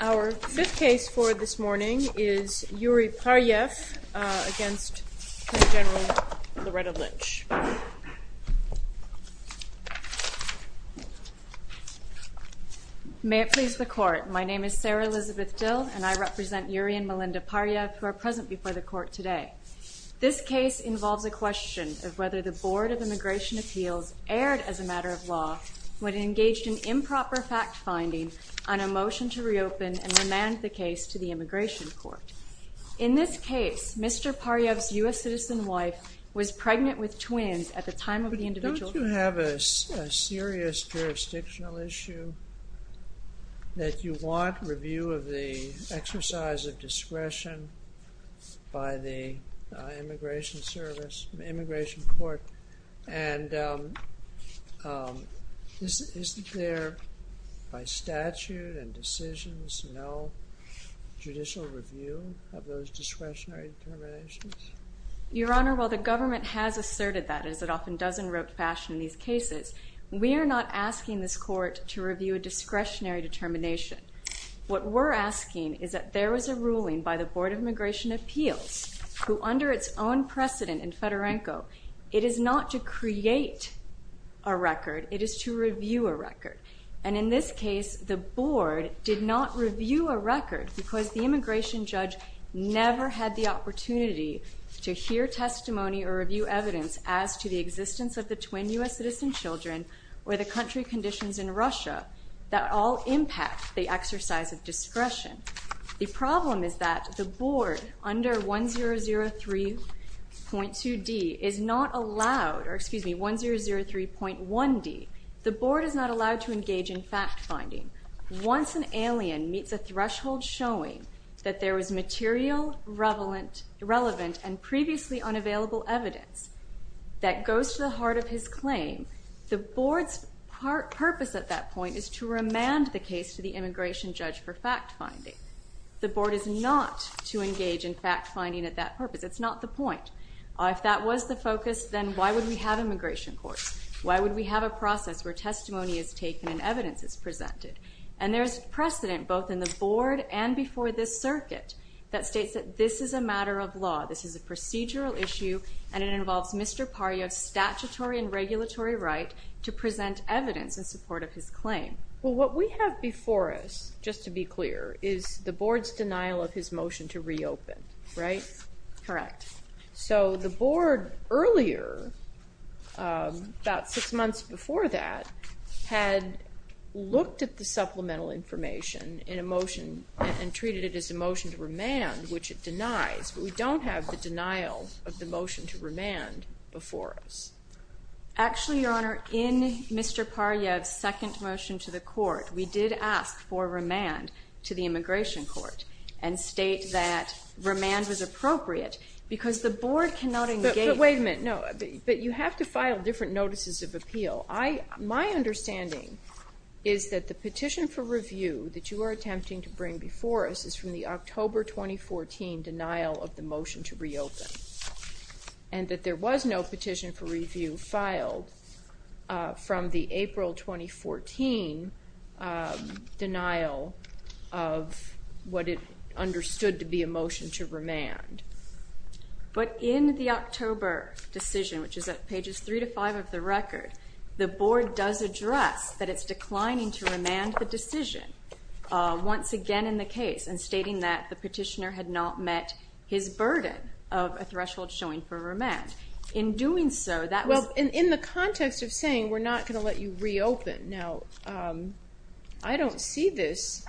Our fifth case for this morning is Yuri Paryev v. v. v. Loretta E. Lynch. May it please the Court, my name is Sarah-Elizabeth Dill and I represent Yuri and Melinda Paryev who are present before the Court today. This case involves a question of whether the Board of Immigration Appeals erred as a matter of law when it engaged in improper fact-finding on a motion to reopen and remand the case to the Immigration Court. In this case, Mr. Paryev's U.S. citizen wife was pregnant with twins at the time of the individual case. But don't you have a serious jurisdictional issue that you want review of the exercise of discretion by the Immigration Service, the Immigration Court, and isn't there by statute and decisions no judicial review of those discretionary determinations? Your Honor, while the government has asserted that, as it often does in rote fashion in these cases, we are not asking this Court to review a discretionary determination. What we're asking is that there is a ruling by the Board of Immigration Appeals, who under its own precedent in Fedorenko, it is not to create a record, it is to review a record. And in this case, the Board did not review a record because the immigration judge never had the opportunity to hear testimony or review evidence as to the existence of the twin U.S. citizen children or the country conditions in Russia that all impact the exercise of discretion. The problem is that the Board, under 1003.2d, is not allowed, or excuse me, 1003.1d, the Board is not allowed to engage in fact-finding. Once an alien meets a threshold showing that there is material relevant and previously unavailable evidence that goes to the heart of his claim, the Board's purpose at that point is to remand the case to the immigration judge for fact-finding. The Board is not to engage in fact-finding at that purpose. It's not the point. If that was the focus, then why would we have immigration courts? Why would we have a process where testimony is taken and evidence is presented? And there's precedent, both in the Board and before this circuit, that states that this is a matter of law, this is a procedural issue, and it involves Mr. Paryuk's statutory and regulatory right to present evidence in support of his claim. Well, what we have before us, just to be clear, is the Board's denial of his motion to reopen, right? Correct. So, the Board earlier, about six months before that, had looked at the supplemental information in a motion and treated it as a motion to remand, which it denies, but we don't have the denial of the motion to remand before us. Actually, Your Honor, in Mr. Paryuk's second motion to the court, we did ask for remand to the immigration court and state that remand was appropriate because the Board cannot engage in... But wait a minute. No. But you have to file different notices of appeal. My understanding is that the petition for review that you are attempting to bring before us is from the October 2014 denial of the motion to reopen, and that there was no petition for review filed from the April 2014 denial of what it understood to be a motion to remand. But in the October decision, which is at pages three to five of the record, the Board does address that it's declining to remand the decision, once again in the case, and stating that the petitioner had not met his burden of a threshold showing for remand. In doing so, that was... Well, in the context of saying we're not going to let you reopen, now, I don't see this.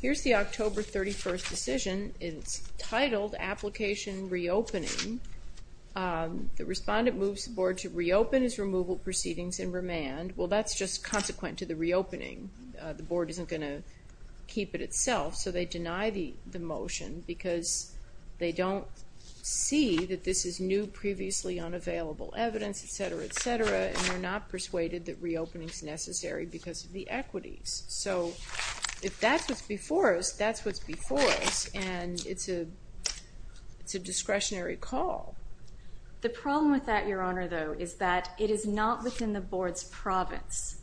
Here's the October 31st decision. It's titled Application Reopening. The respondent moves the Board to reopen his removal proceedings in remand. Well, that's just consequent to the reopening. The Board isn't going to keep it itself, so they deny the motion because they don't see that this is new, previously unavailable evidence, et cetera, et cetera, and they're not persuaded that reopening is necessary because of the equities. So, if that's what's before us, that's what's before us, and it's a discretionary call. The problem with that, Your Honor, though, is that it is not within the Board's province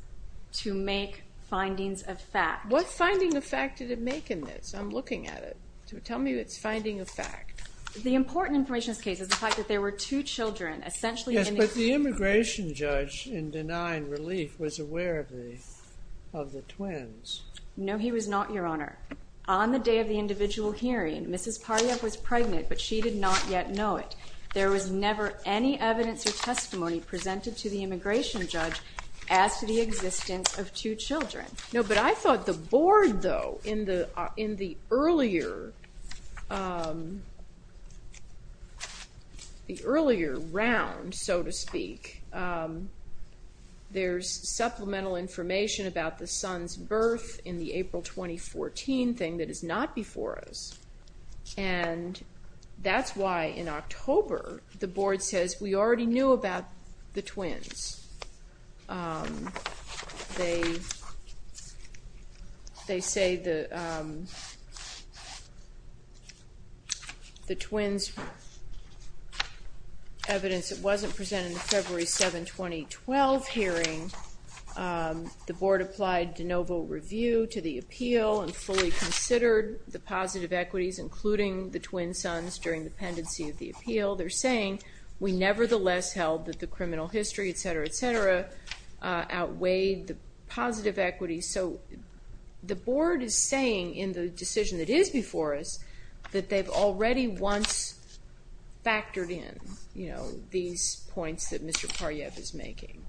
to make findings of fact. What finding of fact did it make in this? I'm looking at it. Tell me it's finding of fact. The important information in this case is the fact that there were two children, essentially... Yes, but the immigration judge, in denying relief, was aware of the twins. No, he was not, Your Honor. On the day of the individual hearing, Mrs. Paryuk was pregnant, but she did not yet know it. There was never any evidence or testimony presented to the immigration judge as to the existence of two children. No, but I thought the Board, though, in the earlier round, so to speak, there's supplemental information about the son's birth in the April 2014 thing that is not before us, and that's why in October, the Board says, we already knew about the twins. They say the twins' evidence wasn't presented in the February 7, 2012 hearing. The Board applied de novo review to the appeal and fully considered the positive equities, including the twin sons, during the pendency of the appeal. They're saying, we nevertheless held that the criminal history, et cetera, et cetera, outweighed the positive equities, so the Board is saying in the decision that is before us that they've already once factored in, you know, these points that Mr. Paryuk is making.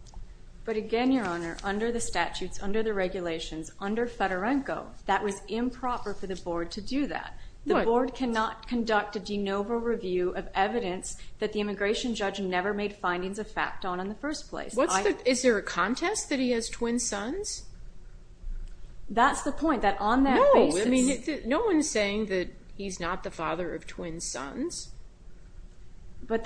But again, Your Honor, under the statutes, under the regulations, under Fedorenko, that was improper for the Board to do that. The Board cannot conduct a de novo review of evidence that the immigration judge never made findings of fact on in the first place. Is there a contest that he has twin sons? That's the point, that on that basis- No, I mean, no one's saying that he's not the father of twin sons, that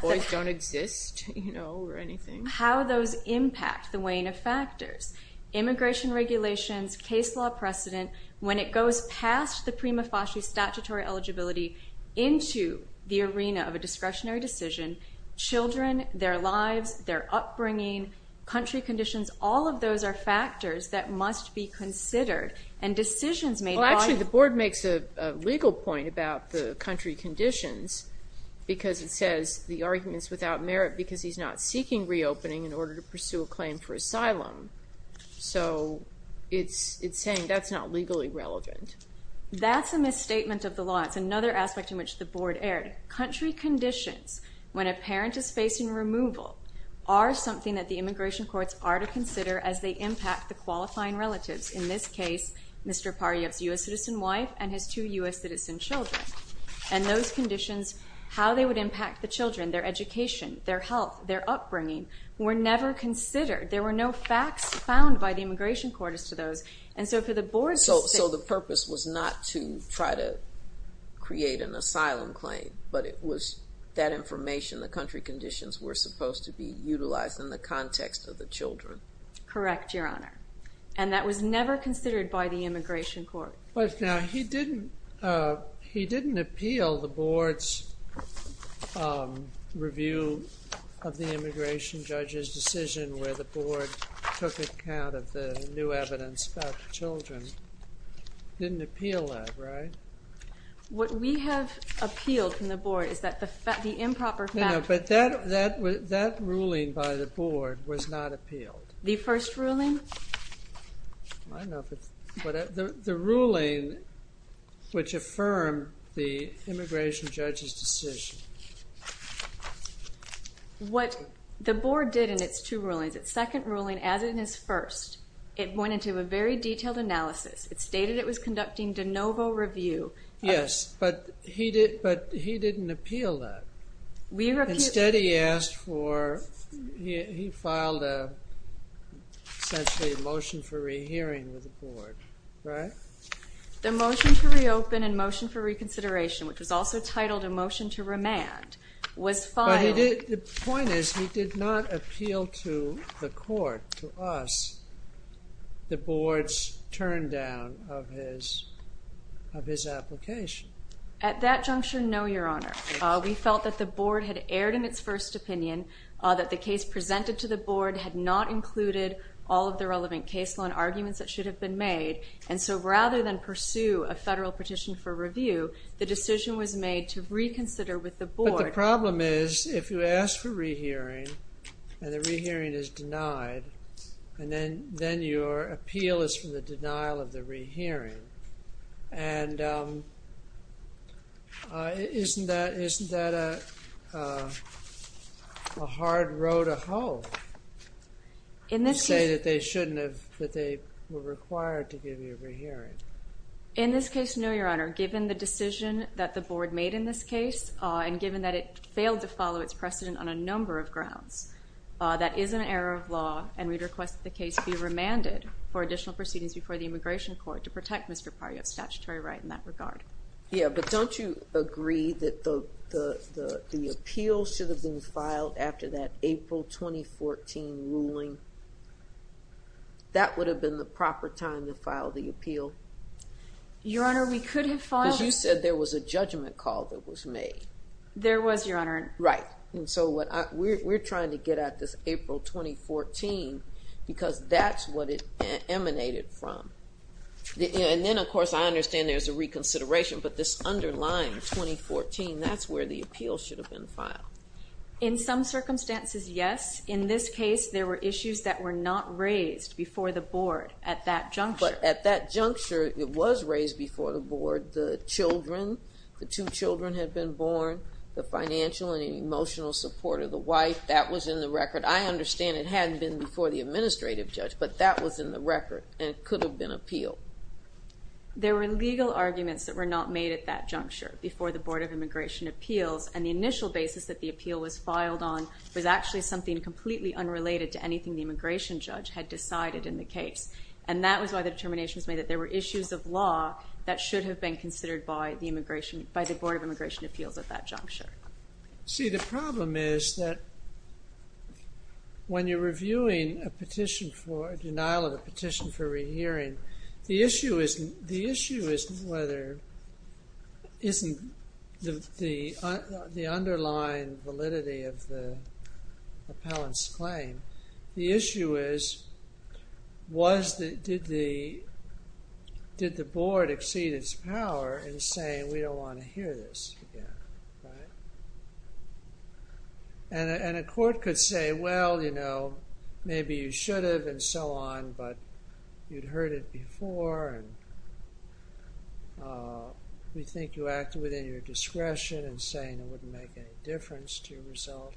boys don't exist, you know, or anything. How those impact the weighing of factors, immigration regulations, case law precedent, when it goes past the prima facie statutory eligibility into the arena of a discretionary decision, children, their lives, their upbringing, country conditions, all of those are factors that must be considered, and decisions made by- Well, actually, the Board makes a legal point about the country conditions because it says the argument's without merit because he's not seeking reopening in order to pursue a claim for asylum. So it's saying that's not legally relevant. That's a misstatement of the law. It's another aspect in which the Board erred. Country conditions, when a parent is facing removal, are something that the immigration courts are to consider as they impact the qualifying relatives, in this case, Mr. Paryov's U.S. citizen wife and his two U.S. citizen children. And those conditions, how they would impact the children, their education, their health, their upbringing, were never considered. There were no facts found by the immigration court as to those. And so for the Board to say- So the purpose was not to try to create an asylum claim, but it was that information, the country conditions, were supposed to be utilized in the context of the children. Correct, Your Honor. And that was never considered by the immigration court. But now, he didn't appeal the Board's review of the immigration judge's decision where the Board took account of the new evidence about the children. Didn't appeal that, right? What we have appealed from the Board is that the improper- No, no, but that ruling by the Board was not appealed. The first ruling? I don't know if it's- The ruling which affirmed the immigration judge's decision. What the Board did in its two rulings, its second ruling, as in its first, it went into a very detailed analysis. It stated it was conducting de novo review. Yes, but he didn't appeal that. Instead, he asked for, he filed a, essentially, a motion for rehearing with the Board, right? The motion to reopen and motion for reconsideration, which was also titled a motion to remand, was filed- But he did, the point is, he did not appeal to the court, to us, the Board's turndown of his application. At that juncture, no, Your Honor. We felt that the Board had erred in its first opinion, that the case presented to the Board had not included all of the relevant case law and arguments that should have been made. And so, rather than pursue a federal petition for review, the decision was made to reconsider with the Board. But the problem is, if you ask for rehearing, and the rehearing is denied, and then your appeal is for the denial of the rehearing, and isn't that a hard row to hoe? You say that they shouldn't have, that they were required to give you a rehearing. In this case, no, Your Honor. Given the decision that the Board made in this case, and given that it failed to follow its precedent on a number of grounds, that is an error of law, and we'd request that the case be remanded for additional proceedings before the Immigration Court to protect Mr. Pario's statutory right in that regard. Yeah, but don't you agree that the appeal should have been filed after that April 2014 ruling? That would have been the proper time to file the appeal? Your Honor, we could have filed— Because you said there was a judgment call that was made. There was, Your Honor. Right. And so, we're trying to get at this April 2014, because that's what it emanated from. And then, of course, I understand there's a reconsideration, but this underlying 2014, that's where the appeal should have been filed. In some circumstances, yes. In this case, there were issues that were not raised before the Board at that juncture. But at that juncture, it was raised before the Board. The children, the two children had been born. The financial and emotional support of the wife, that was in the record. I understand it hadn't been before the administrative judge, but that was in the record, and it should have been appealed. There were legal arguments that were not made at that juncture before the Board of Immigration Appeals, and the initial basis that the appeal was filed on was actually something completely unrelated to anything the immigration judge had decided in the case. And that was why the determination was made that there were issues of law that should have been considered by the Board of Immigration Appeals at that juncture. See, the problem is that when you're reviewing a petition for—a denial of a petition for hearing, the issue isn't whether—isn't the underlying validity of the appellant's claim. The issue is, did the Board exceed its power in saying, we don't want to hear this again? And a court could say, well, you know, maybe you should have, and so on, but you'd heard it before, and we think you acted within your discretion in saying it wouldn't make any difference to your result.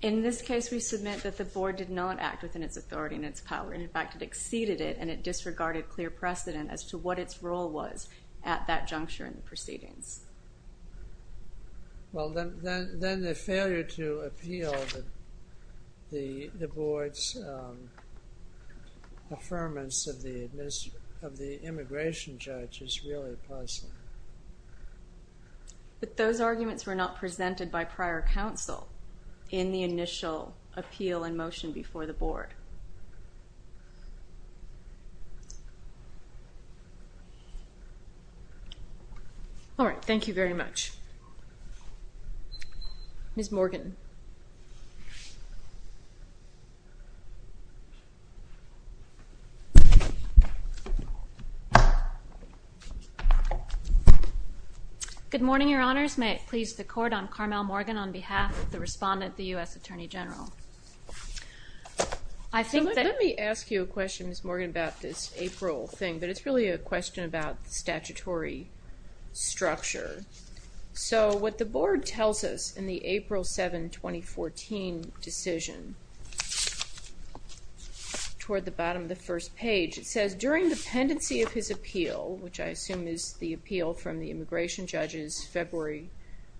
In this case, we submit that the Board did not act within its authority and its power. In fact, it exceeded it, and it disregarded clear precedent as to what its role was at that juncture in the proceedings. Well, then the failure to appeal the Board's affirmance of the immigration judge is really puzzling. But those arguments were not presented by prior counsel in the initial appeal and motion before the Board. All right. Thank you very much. Ms. Morgan. Good morning, Your Honors. May it please the Court, I'm Carmel Morgan on behalf of the respondent, the U.S. Attorney General. I think that— So let me ask you a question, Ms. Morgan, about this April thing, but it's really a question about statutory structure. So what the Board tells us in the April 7, 2014 decision, toward the bottom of the first page, it says, during the pendency of his appeal, which I assume is the appeal from the immigration judge's February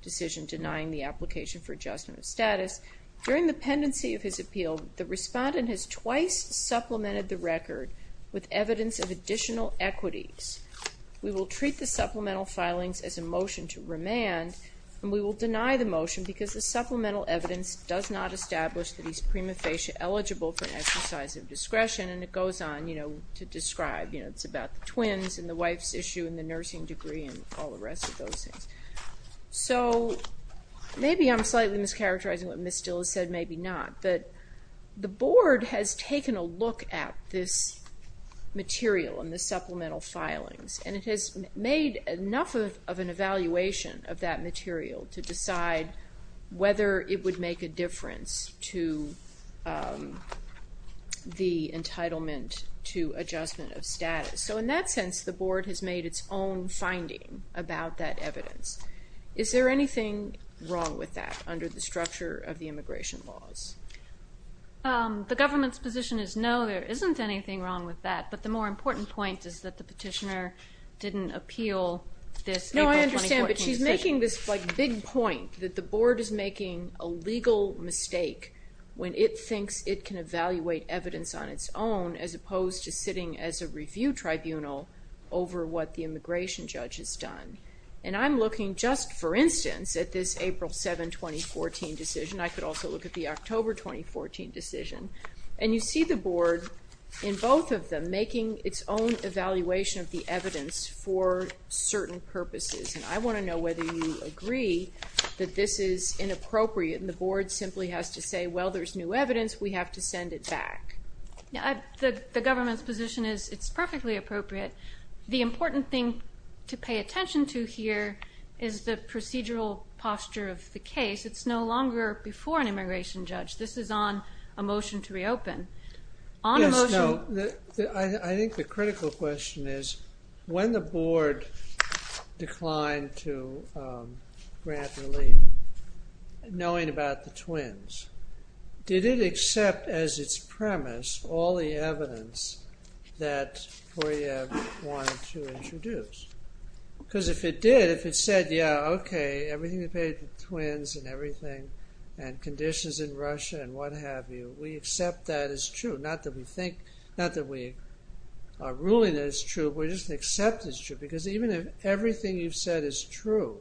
decision denying the application for adjustment of status. During the pendency of his appeal, the respondent has twice supplemented the record with evidence of additional equities. We will treat the supplemental filings as a motion to remand, and we will deny the motion because the supplemental evidence does not establish that he's prima facie eligible for an exercise of discretion, and it goes on, you know, to describe, you know, it's the wife's issue and the nursing degree and all the rest of those things. So maybe I'm slightly mischaracterizing what Ms. Dill has said, maybe not, but the Board has taken a look at this material and the supplemental filings, and it has made enough of an evaluation of that material to decide whether it would make a difference to the entitlement to adjustment of status. So in that sense, the Board has made its own finding about that evidence. Is there anything wrong with that under the structure of the immigration laws? The government's position is no, there isn't anything wrong with that, but the more important point is that the petitioner didn't appeal this April 2014 decision. No, I understand, but she's making this, like, big point that the Board is making a legal mistake when it thinks it can evaluate evidence on its own as opposed to sitting as a review tribunal over what the immigration judge has done. And I'm looking just, for instance, at this April 7, 2014 decision, I could also look at the October 2014 decision, and you see the Board in both of them making its own evaluation of the evidence for certain purposes, and I want to know whether you agree that this is inappropriate and the Board simply has to say, well, there's new evidence, we have to send it back. The government's position is it's perfectly appropriate. The important thing to pay attention to here is the procedural posture of the case. It's no longer before an immigration judge. This is on a motion to reopen. On a motion... Yes, no, I think the critical question is, when the Board declined to grant relief, knowing about the twins, did it accept, as its premise, all the evidence that Koryaev wanted to introduce? Because if it did, if it said, yeah, okay, everything to do with twins and everything and conditions in Russia and what have you, we accept that as true. Not that we think, not that we are ruling it as true, we just accept it as true. Because even if everything you've said is true,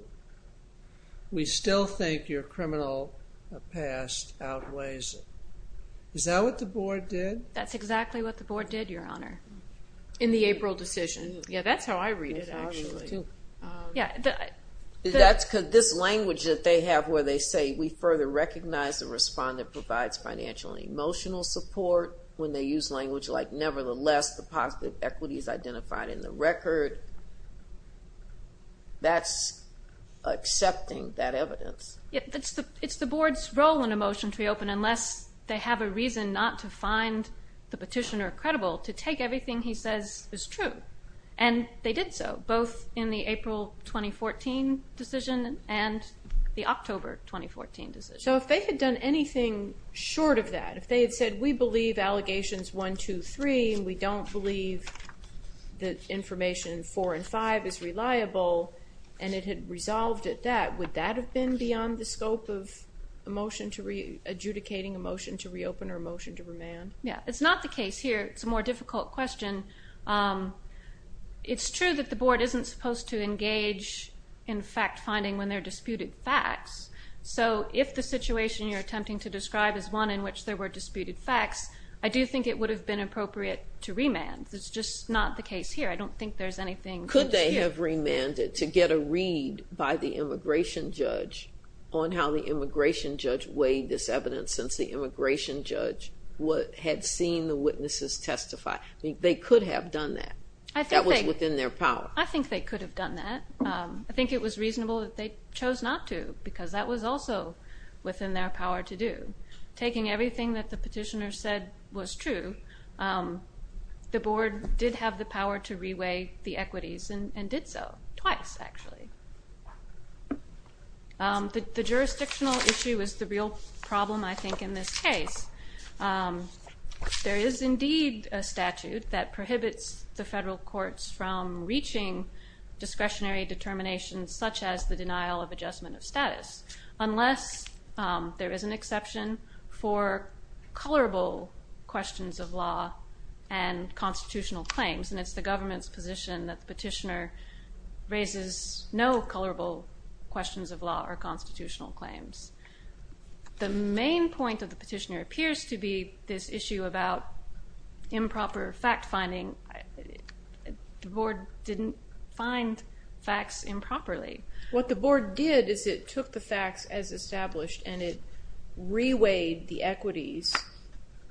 we still think your criminal past outweighs it. Is that what the Board did? That's exactly what the Board did, Your Honor. In the April decision. Yeah, that's how I read it, actually. That's because this language that they have where they say, we further recognize the respondent provides financial and emotional support, when they use language like, nevertheless, the positive equity is identified in the record, that's accepting that evidence. It's the Board's role in a motion to reopen, unless they have a reason not to find the petitioner credible, to take everything he says is true. And they did so, both in the April 2014 decision and the October 2014 decision. So if they had done anything short of that, if they had said, we believe allegations one, two, three, and we don't believe that information four and five is reliable, and it had resolved at that, would that have been beyond the scope of adjudicating a motion to reopen or a motion to remand? Yeah. It's not the case here. It's a more difficult question. It's true that the Board isn't supposed to engage in fact-finding when there are disputed facts. So if the situation you're attempting to describe is one in which there were disputed facts, I do think it would have been appropriate to remand. It's just not the case here. I don't think there's anything here. Could they have remanded to get a read by the immigration judge on how the immigration judge weighed this evidence, since the immigration judge had seen the witnesses testify? They could have done that. That was within their power. I think they could have done that. I think it was reasonable that they chose not to, because that was also within their power to do. Taking everything that the petitioner said was true, the Board did have the power to reweigh the equities and did so, twice, actually. The jurisdictional issue is the real problem, I think, in this case. There is indeed a statute that prohibits the federal courts from reaching discretionary determinations, such as the denial of adjustment of status, unless there is an exception for colorable questions of law and constitutional claims. And it's the government's position that the petitioner raises no colorable questions of law or constitutional claims. The main point of the petitioner appears to be this issue about improper fact-finding. The Board didn't find facts improperly. What the Board did is it took the facts as established and it reweighed the equities,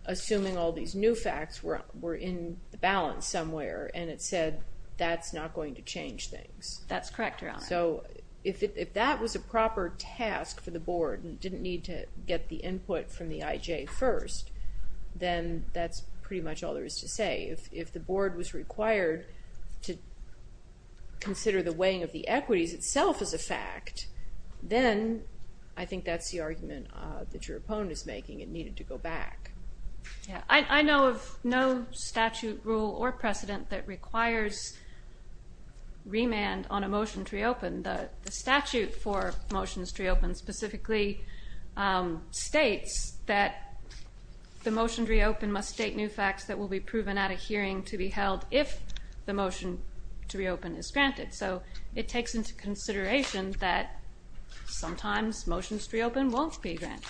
assuming all these new facts were in the balance somewhere, and it said that's not going to change things. That's correct, Your Honor. So, if that was a proper task for the Board and didn't need to get the input from the Board was required to consider the weighing of the equities itself as a fact, then I think that's the argument that your opponent is making, it needed to go back. I know of no statute, rule, or precedent that requires remand on a motion to reopen. The statute for motions to reopen specifically states that the motion to reopen must state new facts that will be proven at a hearing to be held if the motion to reopen is granted. So it takes into consideration that sometimes motions to reopen won't be granted.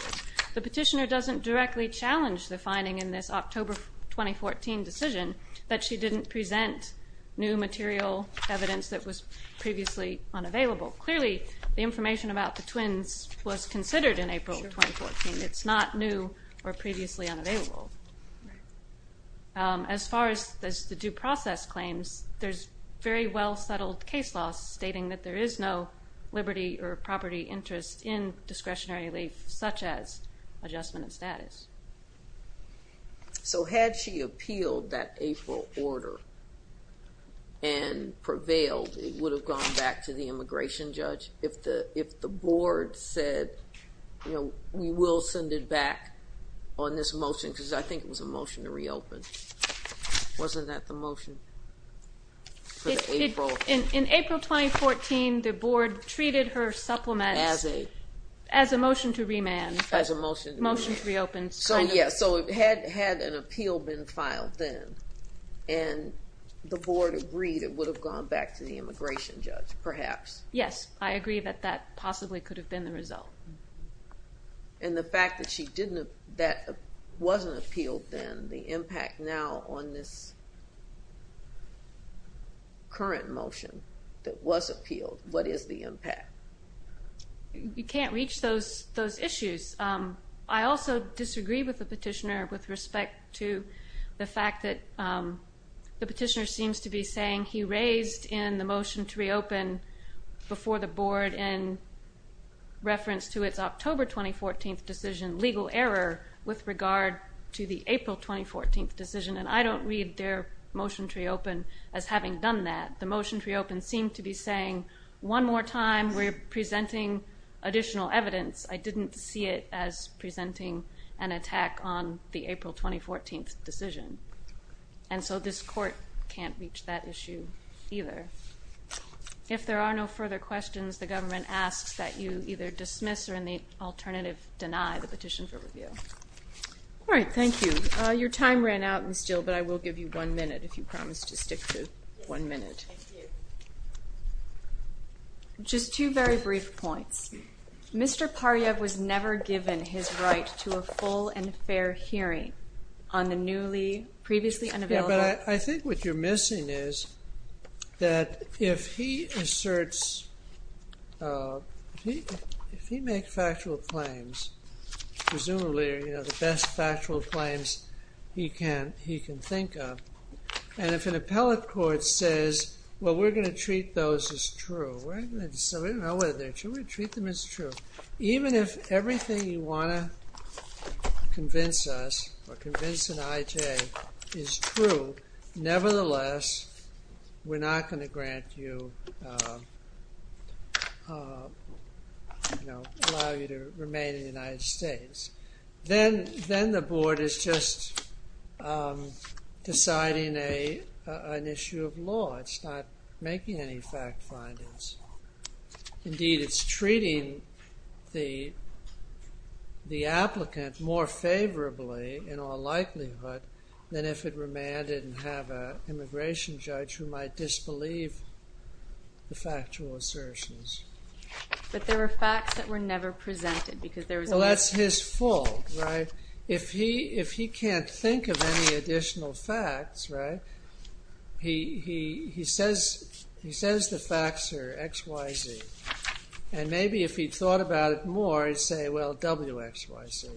The petitioner doesn't directly challenge the finding in this October 2014 decision that she didn't present new material evidence that was previously unavailable. Clearly, the information about the twins was considered in April 2014. It's not new or previously unavailable. As far as the due process claims, there's very well-settled case law stating that there is no liberty or property interest in discretionary relief, such as adjustment of status. So had she appealed that April order and prevailed, it would have gone back to the immigration judge if the board said, we will send it back on this motion, because I think it was a motion to reopen. Wasn't that the motion for April? In April 2014, the board treated her supplement as a motion to remand, motion to reopen. So yes, had an appeal been filed then, and the board agreed, it would have gone back to the immigration judge, perhaps. Yes, I agree that that possibly could have been the result. And the fact that she didn't, that wasn't appealed then, the impact now on this current motion that was appealed, what is the impact? You can't reach those issues. I also disagree with the petitioner with respect to the fact that the petitioner seems to be saying he raised in the motion to reopen before the board in reference to its October 2014 decision legal error with regard to the April 2014 decision, and I don't read their motion to reopen as having done that. The motion to reopen seemed to be saying, one more time, we're presenting additional evidence. I didn't see it as presenting an attack on the April 2014 decision. And so this court can't reach that issue either. If there are no further questions, the government asks that you either dismiss or in the alternative deny the petition for review. All right. Thank you. Your time ran out and still, but I will give you one minute if you promise to stick to one minute. Just two very brief points. Mr. Paryev was never given his right to a full and fair hearing on the newly previously unavailable. Yeah, but I think what you're missing is that if he asserts, if he makes factual claims, presumably, you know, the best factual claims he can think of, and if an appellate court says, well, we're going to treat those as true, we're going to treat them as true. Even if everything you want to convince us or convince an IJ is true, nevertheless, we're not going to grant you, you know, allow you to remain in the United States. Then the board is just deciding an issue of law. It's not making any fact findings. Indeed, it's treating the applicant more favorably, in all likelihood, than if it remanded and have an immigration judge who might disbelieve the factual assertions. But there were facts that were never presented, because there was always... Well, that's his fault, right? If he can't think of any additional facts, right, he says the facts are X, Y, Z. And maybe if he'd thought about it more, he'd say, well, W, X, Y, Z.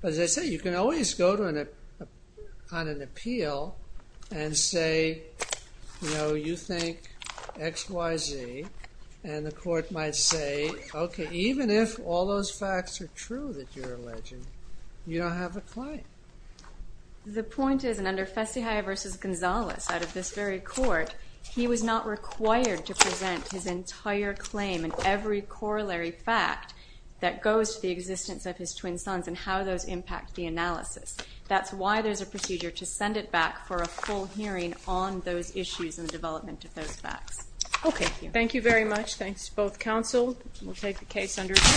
But as I say, you can always go on an appeal and say, you know, you think X, Y, Z, and the court might say, okay, even if all those facts are true that you're alleging, you don't have a claim. The point is, and under Fessihia versus Gonzales, out of this very court, he was not required to present his entire claim and every corollary fact that goes to the existence of his twin sons and how those impact the analysis. That's why there's a procedure to send it back for a full hearing on those issues and the development of those facts. Okay, thank you. Thank you very much. Thanks to both counsel. We'll take the case under review.